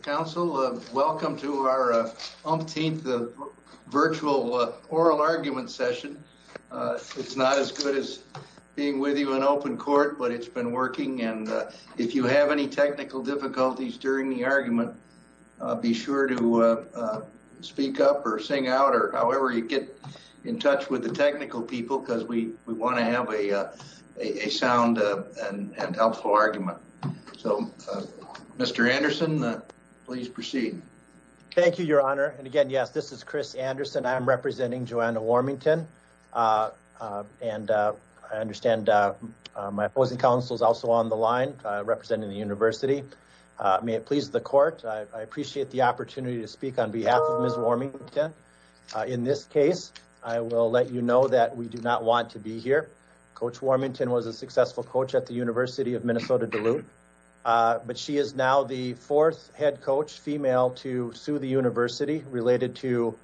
Council, welcome to our umpteenth virtual oral argument session. It's not as good as being with you in open court, but it's been working. And if you have any technical difficulties during the argument, be sure to speak up or sing out or however you get in touch with the technical people, because we, we want to have a, a, a sound and helpful argument. So, Mr. Anderson, please proceed. Thank you, your honor. And again, yes, this is Chris Anderson. I'm representing Joanna Warmington. Uh, uh, and, uh, I understand, uh, uh, my opposing counsel is also on the line, uh, representing the university. Uh, may it please the court. I appreciate the opportunity to speak on behalf of Ms. Warmington. Uh, in this case, I will let you know that we do not want to be here. Coach Warmington was a successful coach at the University of Minnesota, Duluth. Uh, but she is now the fourth head coach female to sue the university related to,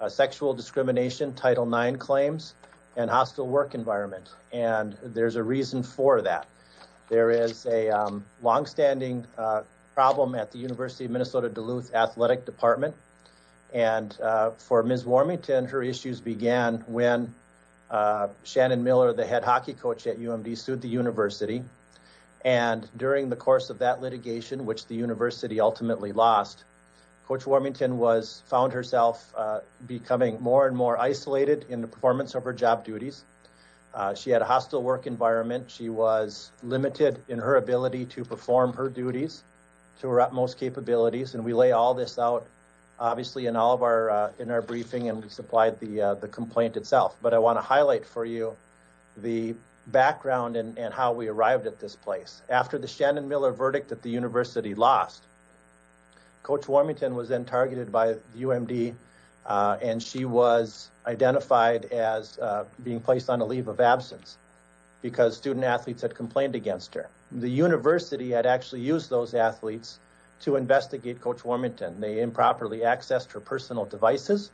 uh, sexual discrimination, Title IX claims and hostile work environment. And there's a reason for that. There is a, um, longstanding, uh, problem at the University of Minnesota, Duluth athletic department. And, uh, for Ms. Warmington, her issues began when, uh, Shannon Miller, the head hockey coach at UMD sued the university. And during the course of that litigation, which the university ultimately lost, coach Warmington was found herself, uh, becoming more and more isolated in the performance of her job duties. Uh, she had a hostile work environment. She was limited in her ability to perform her duties to her utmost capabilities, and we lay all this out, obviously in all of our, uh, in our briefing and we supplied the, uh, the complaint itself, but I want to highlight for you the background and how we arrived at this place after the Shannon Miller verdict that the university lost, coach Warmington was then targeted by UMD, uh, and she was identified as, uh, being placed on a leave of absence because student athletes had complained against her. The university had actually used those athletes to investigate coach Warmington. They improperly accessed her personal devices,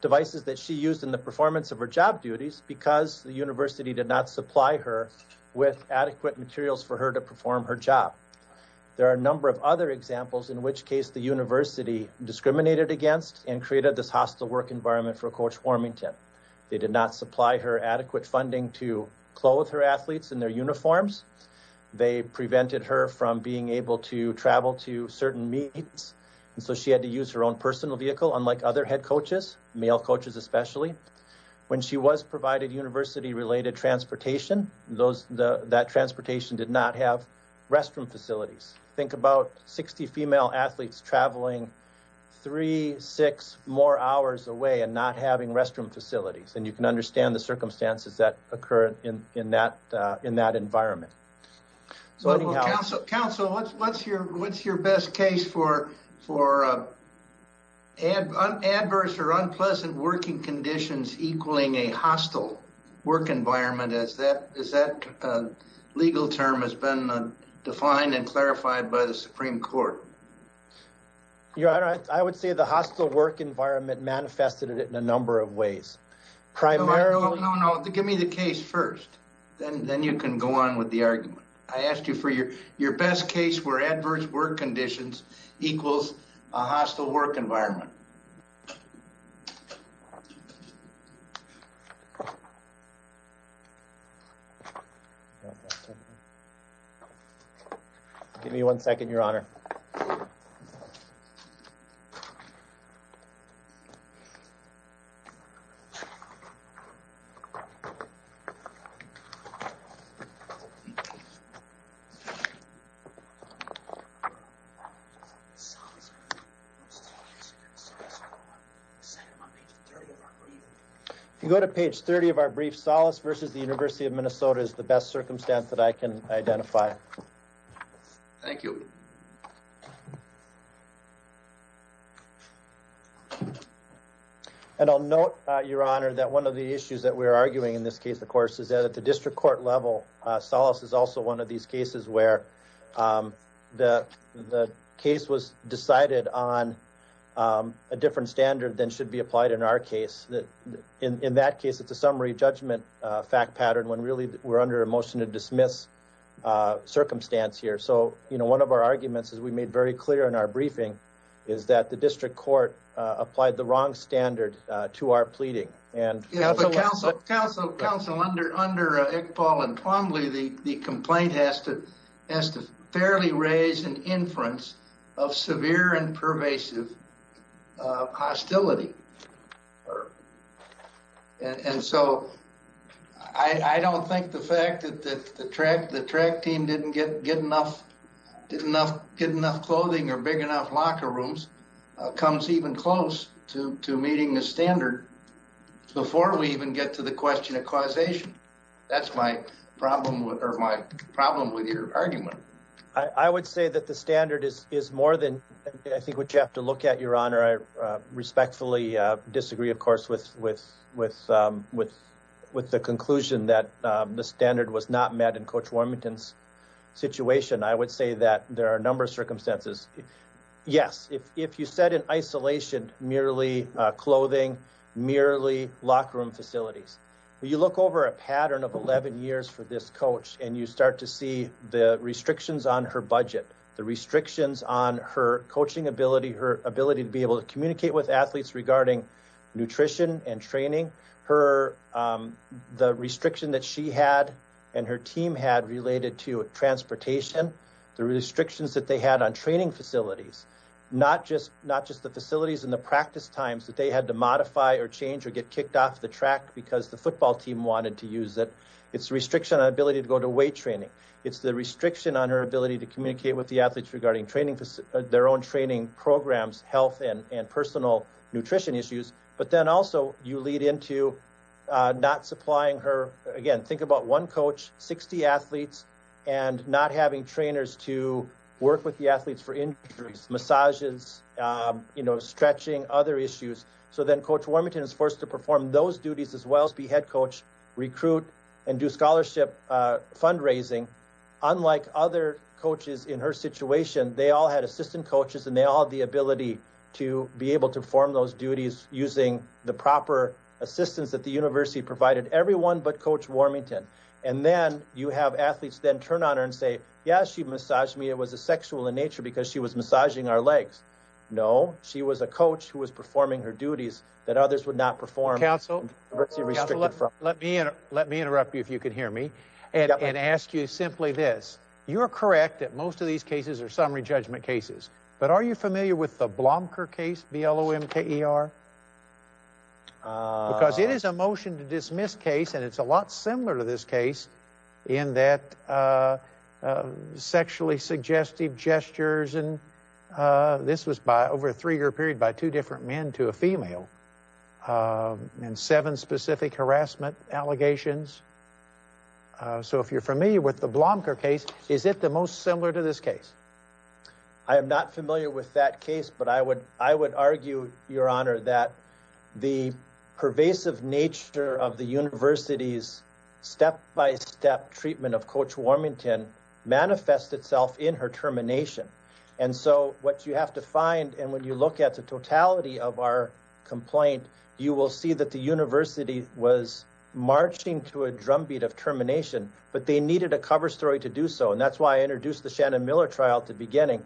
devices that she used in the performance of her job duties because the university did not supply her with adequate materials for her to perform her job. There are a number of other examples in which case the university discriminated against and created this hostile work environment for coach Warmington. They did not supply her adequate funding to clothe her athletes in their uniforms. They prevented her from being able to travel to certain meetings. And so she had to use her own personal vehicle, unlike other head coaches, male coaches, especially when she was provided university related transportation. Those, the, that transportation did not have restroom facilities. Think about 60 female athletes traveling three, six more hours away and not having restroom facilities. And you can understand the circumstances that occur in, in that, uh, in that environment. So council, what's, what's your, what's your best case for, for, uh, adverse or unpleasant working conditions equaling a hostile work environment? Is that, is that a legal term has been defined and clarified by the Supreme Court? Your Honor, I would say the hostile work environment manifested it in a number of ways. Primarily... No, no, no. Give me the case first. Then, then you can go on with the argument. I asked you for your, your best case where adverse work conditions equals a hostile work environment. Give me one second, Your Honor. If you go to page 30 of our brief, solace versus the University of Minnesota is the best circumstance that I can identify. Thank you. And I'll note, Your Honor, that one of the issues that we're arguing in this case, of course, is that at the district court level, uh, solace is also one of these cases where, um, the, the case was decided on, um, a different standard than should be applied in our case that in, in that case, it's a summary judgment, uh, fact pattern when really we're under a motion to dismiss, uh, circumstance here. So, you know, one of our arguments is we made very clear in our briefing is that the district court, uh, applied the wrong standard, uh, to our pleading and... Yeah, but counsel, counsel, counsel, under, under, uh, Iqbal and Plumlee, the, the complaint has to, has to fairly raise an inference of severe and pervasive, uh, hostility, and so I, I don't think the fact that the track, the track team didn't get, get enough, did enough, get enough clothing or big enough locker rooms, uh, comes even close to, to meeting the standard before we even get to the question of causation. That's my problem with, or my problem with your argument. I would say that the standard is, is more than I think what you have to look at, Your Honor, I respectfully disagree, of course, with, with, um, with, with the conclusion that, um, the standard was not met in Coach Warmington's situation, I would say that there are a number of circumstances. Yes, if, if you said in isolation, merely, uh, clothing, merely locker room facilities, you look over a pattern of 11 years for this coach and you start to see the restrictions on her budget, the restrictions on her coaching ability, her ability to be able to communicate with athletes regarding nutrition and training, her, um, the restriction that she had and her team had related to transportation, the restrictions that they had on training facilities, not just, not just the facilities and the practice times that they had to modify or change or get kicked off the track because the football team wanted to use it, it's restriction on ability to go to weight training, it's the restriction on her ability to communicate with the athletes regarding training, their own training programs, health and, and personal nutrition issues. But then also you lead into, uh, not supplying her again, think about one 60 athletes and not having trainers to work with the athletes for injuries, massages, um, you know, stretching other issues. So then coach Warmington is forced to perform those duties as well as be head coach, recruit and do scholarship, uh, fundraising. Unlike other coaches in her situation, they all had assistant coaches and they all have the ability to be able to form those duties using the proper assistance that the university provided everyone, but coach Warmington. And then you have athletes then turn on her and say, yeah, she massaged me. It was a sexual in nature because she was massaging our legs. No, she was a coach who was performing her duties that others would not perform. Let me, let me interrupt you. If you could hear me and ask you simply this, you're correct. That most of these cases are summary judgment cases, but are you familiar with the Blomker case, B-L-O-M-K-E-R? Uh, because it is a motion to dismiss case. And it's a lot similar to this case in that, uh, uh, sexually suggestive gestures, and, uh, this was by over a three year period by two different men to a female, um, and seven specific harassment allegations. Uh, so if you're familiar with the Blomker case, is it the most similar to this case? I am not familiar with that case, but I would, I would argue your honor that the pervasive nature of the university's step-by-step treatment of coach Warmington manifest itself in her termination. And so what you have to find, and when you look at the totality of our complaint, you will see that the university was marching to a drumbeat of termination, but they needed a cover story to do so. And that's why I introduced the Shannon Miller trial at the beginning.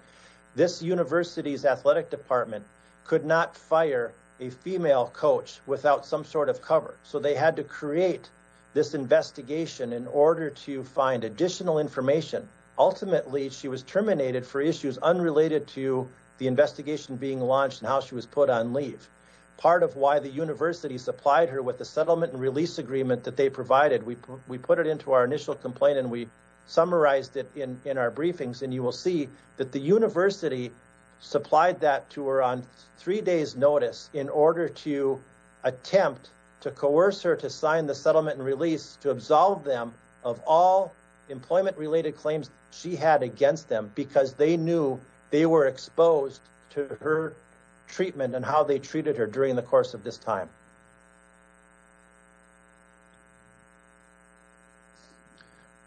This university's athletic department could not fire a female coach without some sort of cover. So they had to create this investigation in order to find additional information. Ultimately, she was terminated for issues unrelated to the investigation being launched and how she was put on leave. Part of why the university supplied her with the settlement and release agreement that they provided. We, we put it into our initial complaint and we summarized it in, in our report, but the university supplied that to her on three days notice in order to attempt to coerce her, to sign the settlement and release, to absolve them of all employment related claims she had against them because they knew they were exposed to her treatment and how they treated her during the course of this time.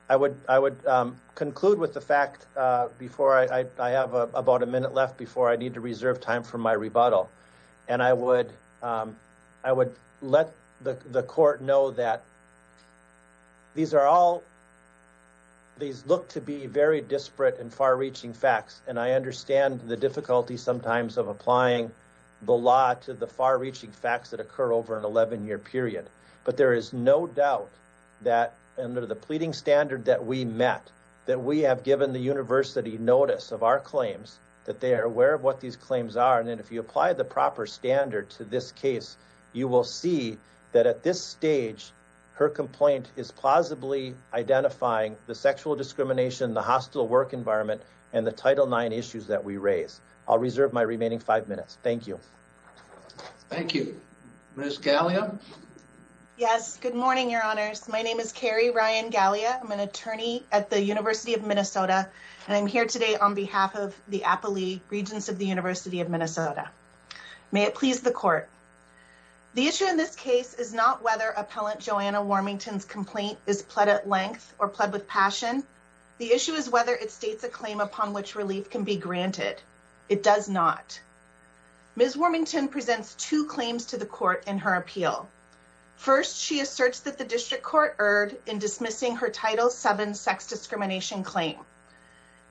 I would, I would conclude with the fact before I, I have about a minute left before I need to reserve time for my rebuttal and I would, I would let the court know that these are all, these look to be very disparate and far reaching facts. And I understand the difficulty sometimes of applying the law to the far reaching facts that occur over an 11 year period. But there is no doubt that under the pleading standard that we met, that we have given the university notice of our claims, that they are aware of what these claims are. And then if you apply the proper standard to this case, you will see that at this stage, her complaint is plausibly identifying the sexual discrimination, the hostile work environment, and the Title IX issues that we raise. I'll reserve my remaining five minutes. Thank you. Thank you. Ms. Gallia. Yes. Good morning, your honors. My name is Carrie Ryan Gallia. I'm an attorney at the University of Minnesota, and I'm here today on behalf of the Appalee Regents of the University of Minnesota. May it please the court. The issue in this case is not whether appellant Joanna Warmington's complaint is pled at length or pled with passion. The issue is whether it states a claim upon which relief can be granted. It does not. Ms. Warmington presents two claims to the court in her appeal. First, she asserts that the district court erred in dismissing her Title VII sex discrimination claim.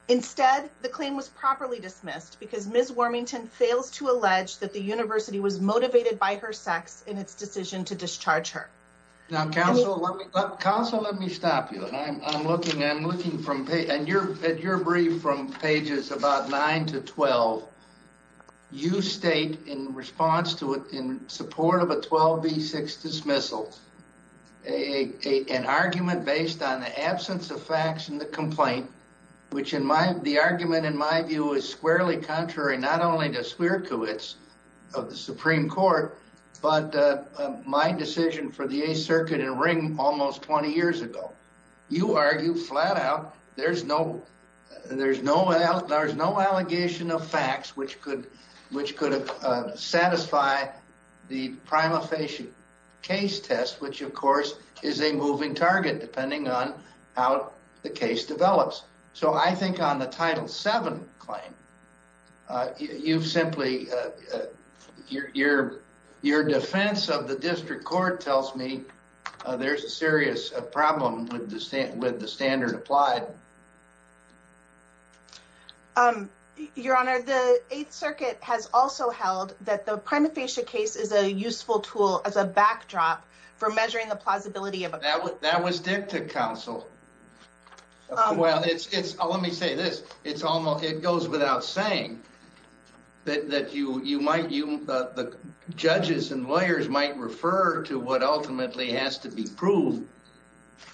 Instead, the claim was properly dismissed because Ms. Warmington fails to allege that the university was motivated by her sex in its decision to discharge her. Now, counsel, let me stop you. I'm looking at your brief from pages about nine to 12. You state in response to it, in support of a 12B6 dismissal, an argument based on the absence of facts in the complaint, which in my, the argument in my view is squarely contrary, not only to Swierkiewicz of the Supreme Court, but my decision for the Eighth Circuit in Ring almost 20 years ago. You argue flat out, there's no, there's no, there's no allegation of facts, which could, which could satisfy the prima facie case test, which of course is a moving target depending on how the case develops. So I think on the Title VII claim, you've simply, your, your, your defense of the district court tells me there's a serious problem with the standard, with the standard applied. Your Honor, the Eighth Circuit has also held that the prima facie case is a useful tool as a backdrop for measuring the plausibility of a- That was, that was dicta, counsel. Well, it's, it's, let me say this. It's almost, it goes without saying that you, you might, you, the judges and lawyers might refer to what ultimately has to be proved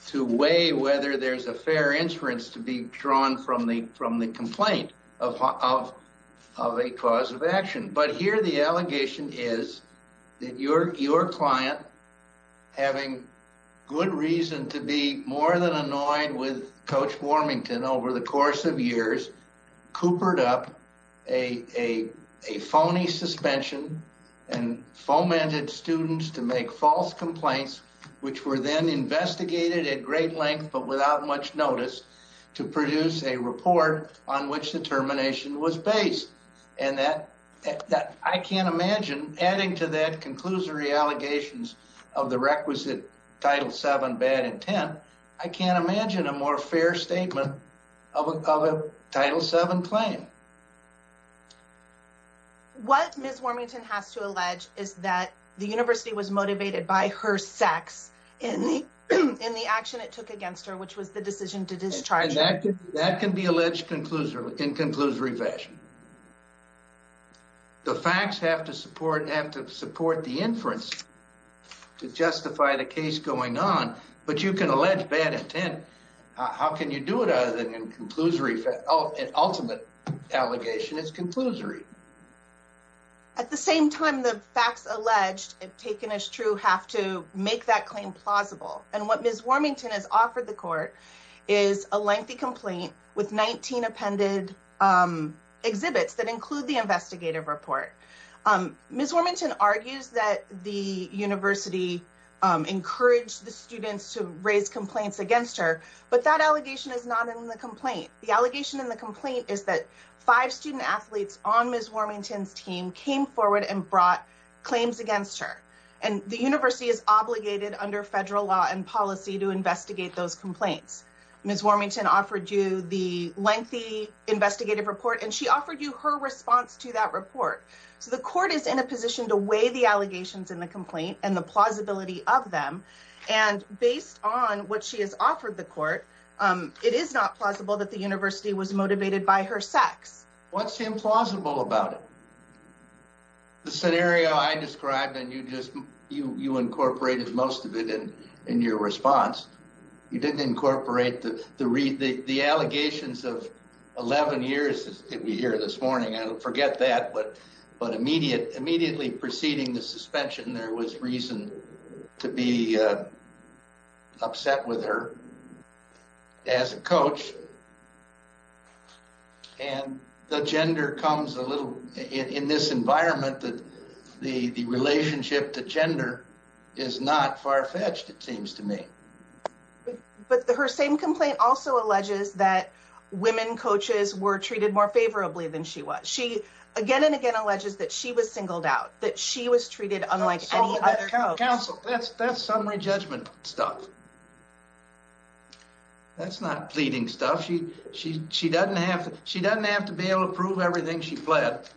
to weigh whether there's a fair inference to be drawn from the, from the complaint of, of, of a cause of action. But here the allegation is that your, your client having good reason to be more than annoyed with Coach Warmington over the course of years, coopered up a, a, a phony suspension and fomented students to make false complaints, which were then investigated at great length, but without much notice to produce a report on which the termination was based and that, that I can't imagine adding to that conclusory allegations of the requisite Title VII bad intent, I can't imagine a more fair statement of a, of a Title VII claim. What Ms. Warmington has to allege is that the university was motivated by her sex in the, in the action it took against her, which was the decision to discharge her. That can be alleged conclusory, in conclusory fashion. The facts have to support, have to support the inference to justify the case going on, but you can allege bad intent. How can you do it other than in conclusory, an ultimate allegation is conclusory. At the same time, the facts alleged, if taken as true, have to make that claim plausible. And what Ms. Warmington has offered the court is a lengthy complaint with 19 appended exhibits that include the investigative report. Ms. Warmington argues that the university encouraged the students to raise complaints against her, but that allegation is not in the complaint. The allegation in the complaint is that five student athletes on Ms. Warmington's team came forward and brought claims against her. And the university is obligated under federal law and policy to investigate those complaints. Ms. Warmington offered you the lengthy investigative report and she offered you her response to that report. So the court is in a position to weigh the allegations in the complaint and the she has offered the court. It is not plausible that the university was motivated by her sex. What's implausible about it? The scenario I described and you incorporated most of it in your response. You didn't incorporate the allegations of 11 years that we hear this morning. I forget that, but immediately preceding the suspension, there was reason to be upset with her as a coach. And the gender comes a little in this environment that the relationship to gender is not far-fetched, it seems to me. But her same complaint also alleges that women coaches were treated more favorably than she was. She again and again alleges that she was singled out, that she was treated unlike any other coach. That's summary judgment stuff. That's not pleading stuff. She doesn't have to be able to prove everything she pled.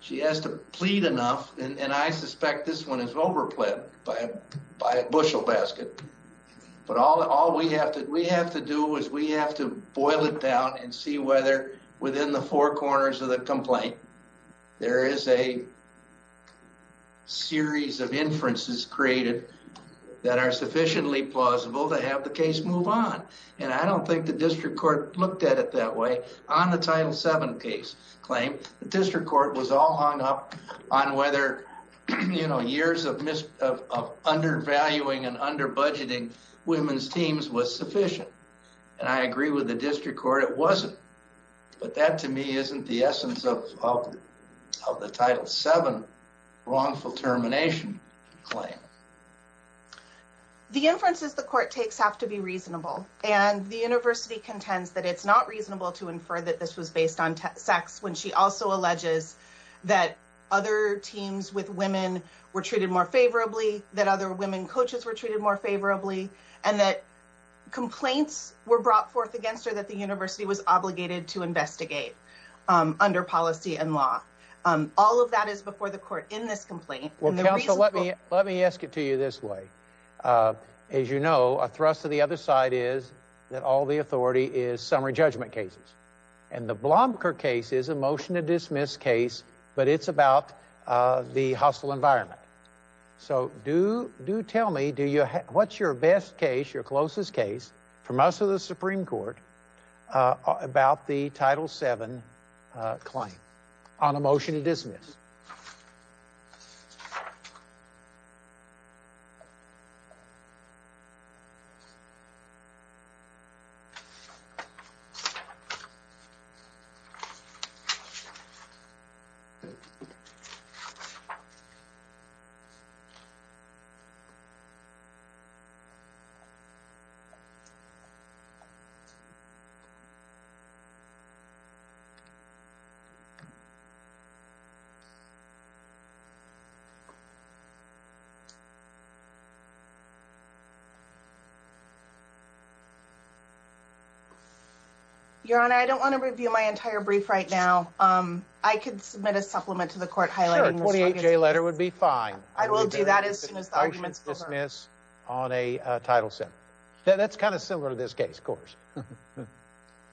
She has to plead enough and I suspect this one is over pled by a bushel basket. But all we have to do is we have to boil it down and see whether within the four created that are sufficiently plausible to have the case move on. And I don't think the district court looked at it that way on the Title VII case claim. The district court was all hung up on whether years of undervaluing and under-budgeting women's teams was sufficient. And I agree with the district court, it wasn't. But that to me isn't the essence of the Title VII wrongful termination claim. The inferences the court takes have to be reasonable and the university contends that it's not reasonable to infer that this was based on sex when she also alleges that other teams with women were treated more favorably, that other women coaches were treated more favorably, and that complaints were brought forth against her that the university was obligated to investigate under policy and law. All of that is before the court in this complaint. Well, counsel, let me ask it to you this way. As you know, a thrust to the other side is that all the authority is summary judgment cases. And the Blomker case is a motion to dismiss case, but it's about the hostile environment. So do tell me, what's your best case, your closest case from us or the Supreme Court about the Title VII claim on a motion to dismiss? Your Honor, I don't want to review my entire brief right now. I could submit a supplement to the court highlighting this. Sure, a 28-J letter would be fine. I will do that as soon as the argument is heard. I will dismiss on a Title VII. That's kind of similar to this case, of course.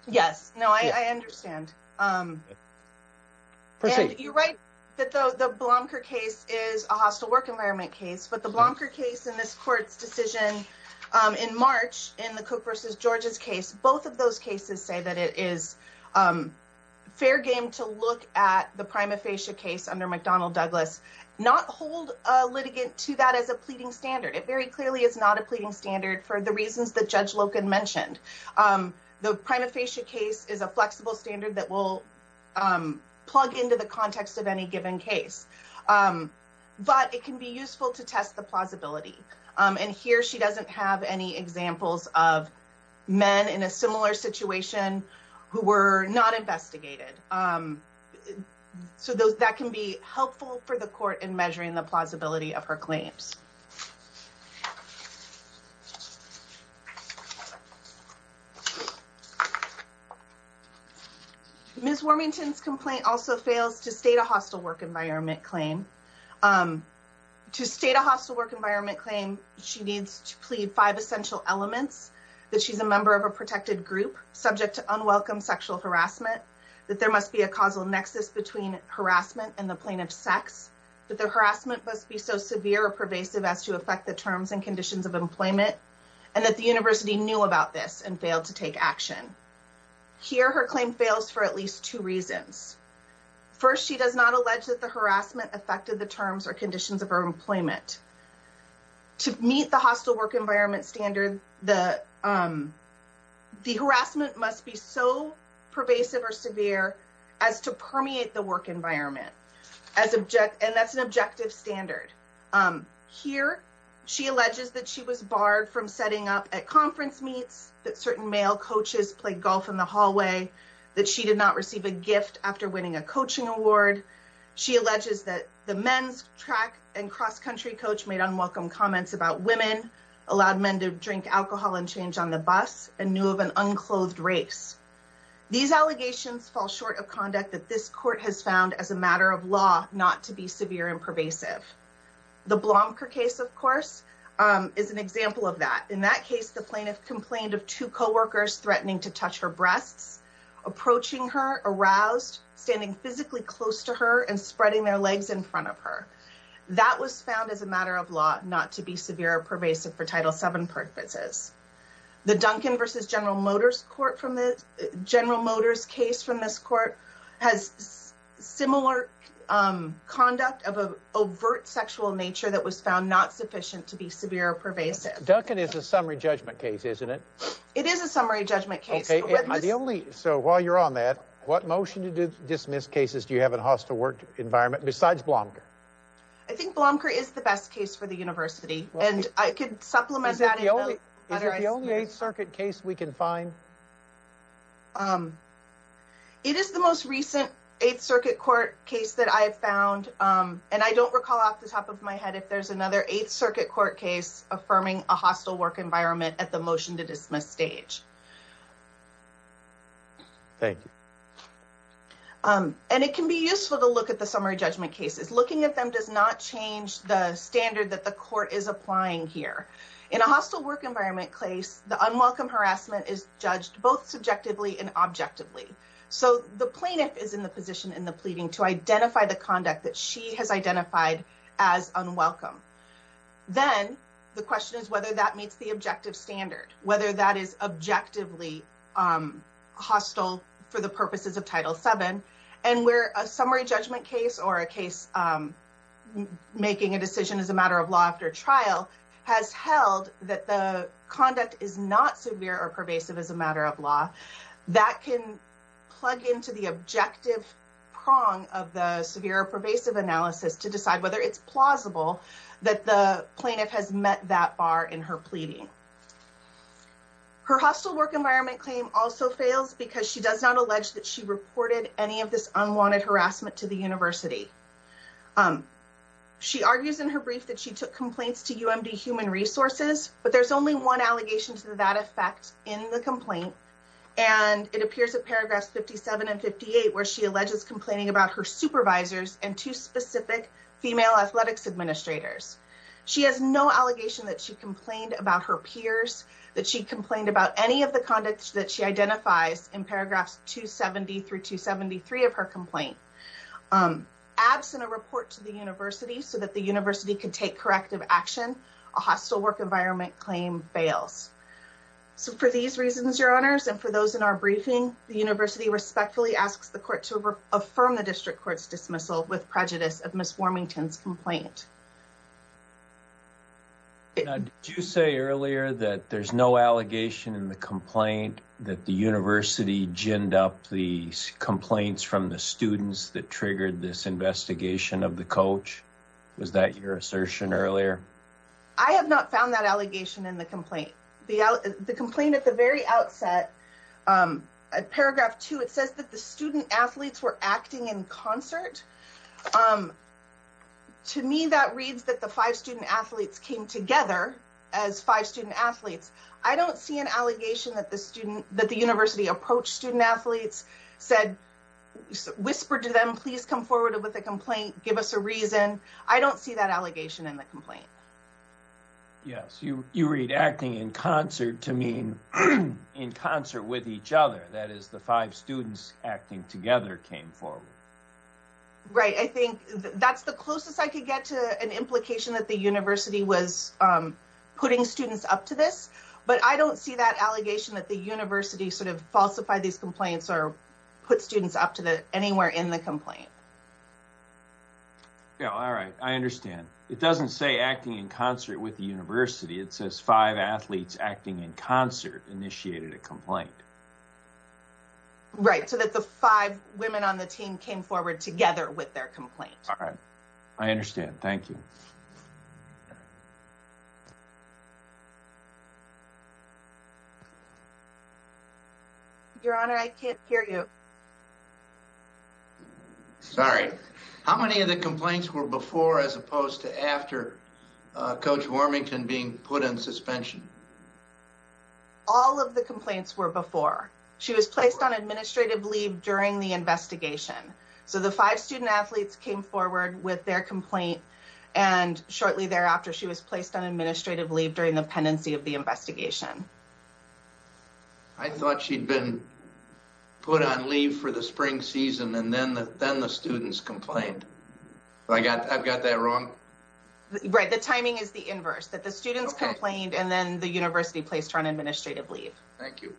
Yes. No, I understand. Proceed. You're right that the Blomker case is a hostile work environment case, but the Blomker case in this court's decision in March in the Cook v. George's case, both of those cases say that it is fair game to look at the prima facie case under McDonnell Douglas, not hold a litigant to that as a pleading standard. It very clearly is not a pleading standard for the reasons that Judge Loken mentioned. The prima facie case is a flexible standard that will plug into the context of any given case, but it can be useful to test the plausibility. Here, she doesn't have any examples of men in a similar situation who were not investigated, so that can be helpful for the court in measuring the case. Ms. Warmington's complaint also fails to state a hostile work environment claim. To state a hostile work environment claim, she needs to plead five essential elements, that she's a member of a protected group subject to unwelcome sexual harassment, that there must be a causal nexus between harassment and the plaintiff's sex, that the harassment must be so severe or pervasive as to affect the terms and conditions of employment, and that the university knew about this and failed to take action. Here, her claim fails for at least two reasons. First, she does not allege that the harassment affected the terms or conditions of her employment. To meet the hostile work environment standard, the harassment must be so pervasive or severe as to permeate the work environment, and that's an objective standard. Here, she alleges that she was barred from setting up at conference meets, that certain male coaches played golf in the hallway, that she did not receive a gift after winning a coaching award. She alleges that the men's track and cross-country coach made unwelcome comments about women, allowed men to drink alcohol and change on the bus, and knew of an unclothed race. These allegations fall short of conduct that this court has found as a matter of law not to be severe and pervasive. The Blomker case, of course, is an example of that. In that case, the plaintiff complained of two co-workers threatening to touch her breasts, approaching her, aroused, standing physically close to her, and spreading their legs in front of her. That was found as a matter of law not to be severe or pervasive for Title VII purposes. The Duncan v. General Motors case from this court has similar conduct of overt sexual nature that was found not sufficient to be severe or pervasive. Duncan is a summary judgment case, isn't it? It is a summary judgment case. So while you're on that, what motion to dismiss cases do you have in a hostile work environment besides Blomker? I think Blomker is the best case for the university, and I could supplement that. Is it the only Eighth Circuit case we can find? It is the most recent Eighth Circuit court case that I have found, and I don't recall off the top of my head if there's another Eighth Circuit court case affirming a hostile work environment at the motion to dismiss stage. Thank you. And it can be useful to look at the summary judgment cases. Looking at them does not change the standard that the court is applying here. In a hostile work environment case, the unwelcome harassment is judged both subjectively and objectively. So the plaintiff is in the position in the pleading to identify the conduct that she has identified as unwelcome. Then the question is whether that meets the objective standard, whether that is objectively hostile for the purposes of Title VII, and where a summary judgment case or a case making a decision as a matter of law after trial has held that the conduct is not severe or pervasive as a matter of law, that can plug into the objective prong of the severe or pervasive analysis to decide whether it's plausible that the plaintiff has met that bar in her pleading. Her hostile work environment claim also fails because she does not allege that she reported any of this unwanted harassment to the university. She argues in her brief that she took complaints to UMD Human Resources, but there's only one allegation to that effect in the complaint, and it appears in paragraphs 57 and 58 where she alleges complaining about her supervisors and two specific female athletics administrators. She has no allegation that she complained about her peers, that she complained about any of the conducts that she identifies in paragraphs 270 through 273 of her complaint. Absent a report to the university so that the university could take corrective action, a hostile work environment claim fails. So for these reasons, your honors, and for those in our briefing, the university respectfully asks the court to affirm the district court's dismissal with prejudice of Ms. Warmington's complaint. Did you say earlier that there's no allegation in the complaint that the university ginned up the complaints from the students that triggered this investigation of the coach? Was that your assertion earlier? I have not found that allegation in the complaint. The complaint at the very outset, at paragraph two, it says that the student athletes were acting in concert. To me, that reads that the five student athletes came together as five student athletes. I don't see an allegation that the university approached student athletes, said, whispered to them, please come forward with a complaint, give us a reason. I don't see that allegation in the complaint. Yes, you read acting in concert to mean in concert with each other. That is the five students acting together came forward. Right. I think that's the closest I could get to an implication that the university was putting students up to this, but I don't see that allegation that the university sort of falsified these complaints or put students up to the anywhere in the complaint. Yeah, all right. I understand. It doesn't say acting in concert with the university. It says five athletes acting in concert initiated a complaint. Right, so that the five women on the team came forward together with their complaint. All right. I understand. Thank you. Your Honor, I can't hear you. How many of the complaints were before as opposed to after Coach Warmington being put in suspension? All of the complaints were before. She was placed on administrative leave during the investigation. So the five student athletes came forward with their complaint and shortly thereafter, she was placed on administrative leave during the pendency of the investigation. I thought she'd been put on leave for the spring season and then the students complained. I've got that wrong? Right. The timing is the inverse, that the students complained and then the university placed her on administrative leave. Thank you.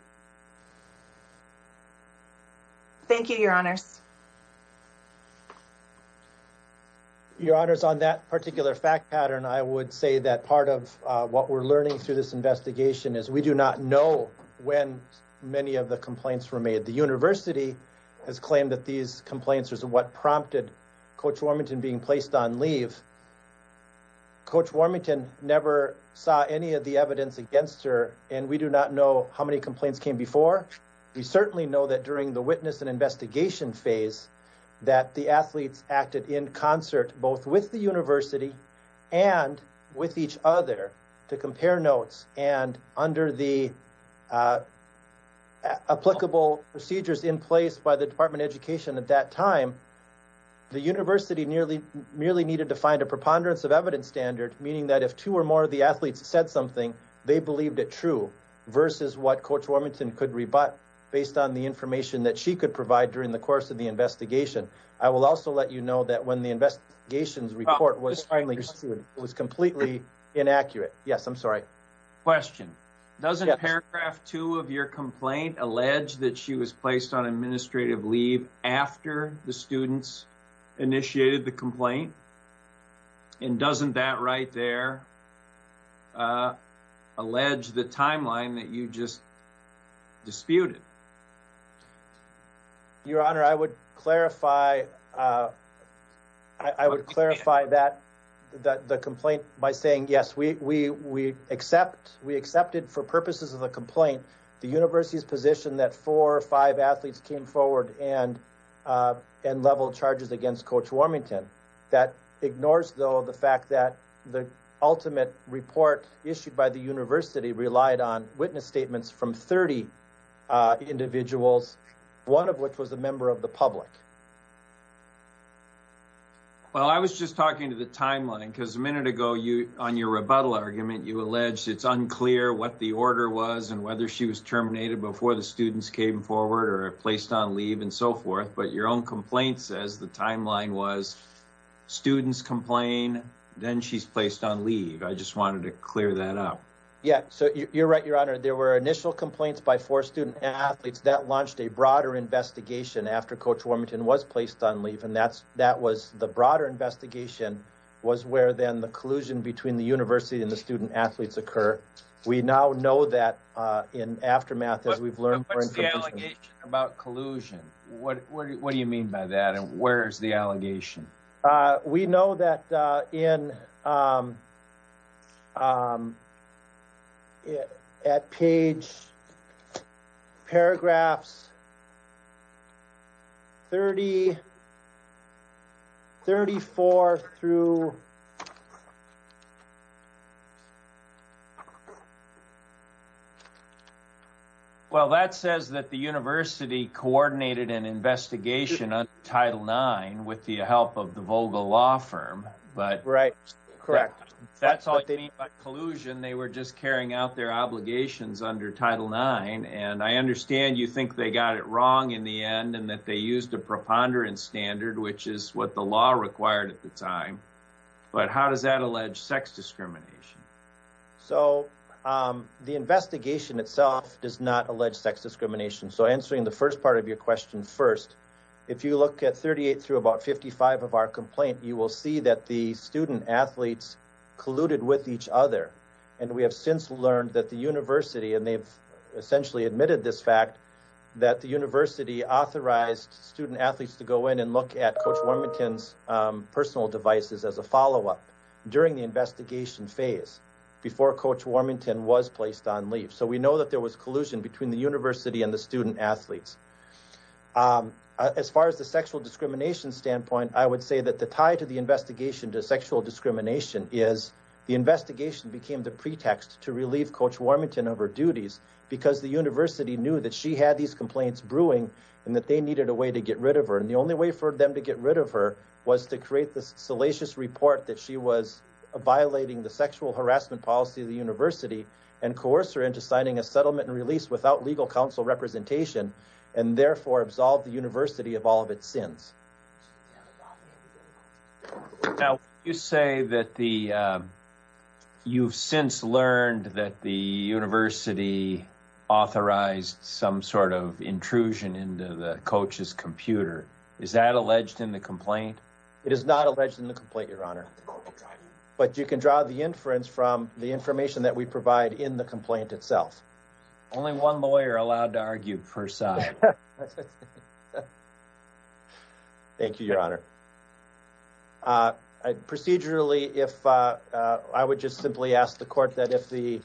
Thank you, Your Honors. Your Honors, on that particular fact pattern, I would say that part of what we're learning through this investigation is we do not know when many of the complaints were made. The university has claimed that these complaints are what prompted Coach Warmington being placed on leave. Coach Warmington never saw any of the evidence against her and we do not know how many complaints came before. We certainly know that during the witness and investigation phase that the athletes acted in concert both with the and under the applicable procedures in place by the Department of Education at that time, the university merely needed to find a preponderance of evidence standard, meaning that if two or more of the athletes said something, they believed it true versus what Coach Warmington could rebut based on the information that she could provide during the course of the investigation. I will also let you know that when the investigations report was finally Question. Doesn't paragraph two of your complaint allege that she was placed on administrative leave after the students initiated the complaint? And doesn't that right there allege the timeline that you just disputed? Your Honor, I would clarify. I would clarify that that the complaint by saying yes, we we we accept we accepted for purposes of the complaint. The university's position that four or five athletes came forward and and level charges against Coach Warmington. That ignores, though, the fact that the ultimate report issued by the individuals, one of which was a member of the public. Well, I was just talking to the timeline because a minute ago you on your rebuttal argument, you alleged it's unclear what the order was and whether she was terminated before the students came forward or placed on leave and so forth. But your own complaint says the timeline was students complain, then she's placed on leave. I just wanted to clear that up. Yeah, so you're right, Your Honor. There were initial complaints by four student athletes that launched a broader investigation after Coach Warmington was placed on leave. And that's that was the broader investigation was where then the collusion between the university and the student athletes occur. We now know that in aftermath, as we've learned. What's the allegation about collusion? What do you mean by that? And where's the allegation? We know that in at page paragraphs 30, 34 through. Well, that says that the university coordinated an investigation on Title with the help of the Vogel law firm. But right, correct. That's all they need. But collusion, they were just carrying out their obligations under Title IX. And I understand you think they got it wrong in the end and that they used a preponderance standard, which is what the law required at the time. But how does that allege sex discrimination? So the investigation itself does not allege sex discrimination. So answering the first part of your question first, if you look at 38 through about 55 of our complaint, you will see that the student athletes colluded with each other. And we have since learned that the university and they've essentially admitted this fact that the university authorized student athletes to go in and look at Coach Warmington's personal devices as a follow up during the investigation phase before Coach Warmington was placed on leave. So we know that there was collusion between the university and the student athletes. As far as the sexual discrimination standpoint, I would say that the tie to the investigation to sexual discrimination is the investigation became the pretext to relieve Coach Warmington of her duties because the university knew that she had these complaints brewing and that they needed a way to get rid of her. And the only way for them to get rid of her was to create this salacious report that she was violating the sexual harassment policy of the university and coerce her into signing a settlement and release without legal counsel representation and therefore absolve the university of all of its sins. Now you say that the you've since learned that the university authorized some sort of intrusion into the coach's computer. Is that alleged in the complaint? It is not alleged in the complaint, your honor. But you can draw the inference from the information that we provide in the complaint itself. Only one lawyer allowed to argue, first side. Thank you, your honor. Procedurally, if I would just simply ask the court that if the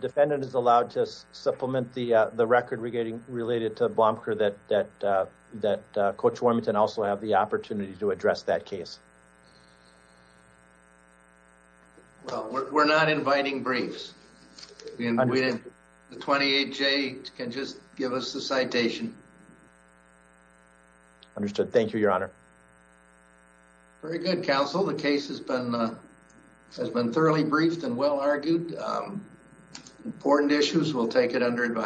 defendant is allowed to supplement the record relating to Blomkir that Coach Warmington also have the opportunity to address that case. Well, we're not inviting briefs. The 28J can just give us the citation. Understood. Thank you, your honor. Very good, counsel. The case has been thoroughly briefed and well argued. Important issues, we'll take it under advice.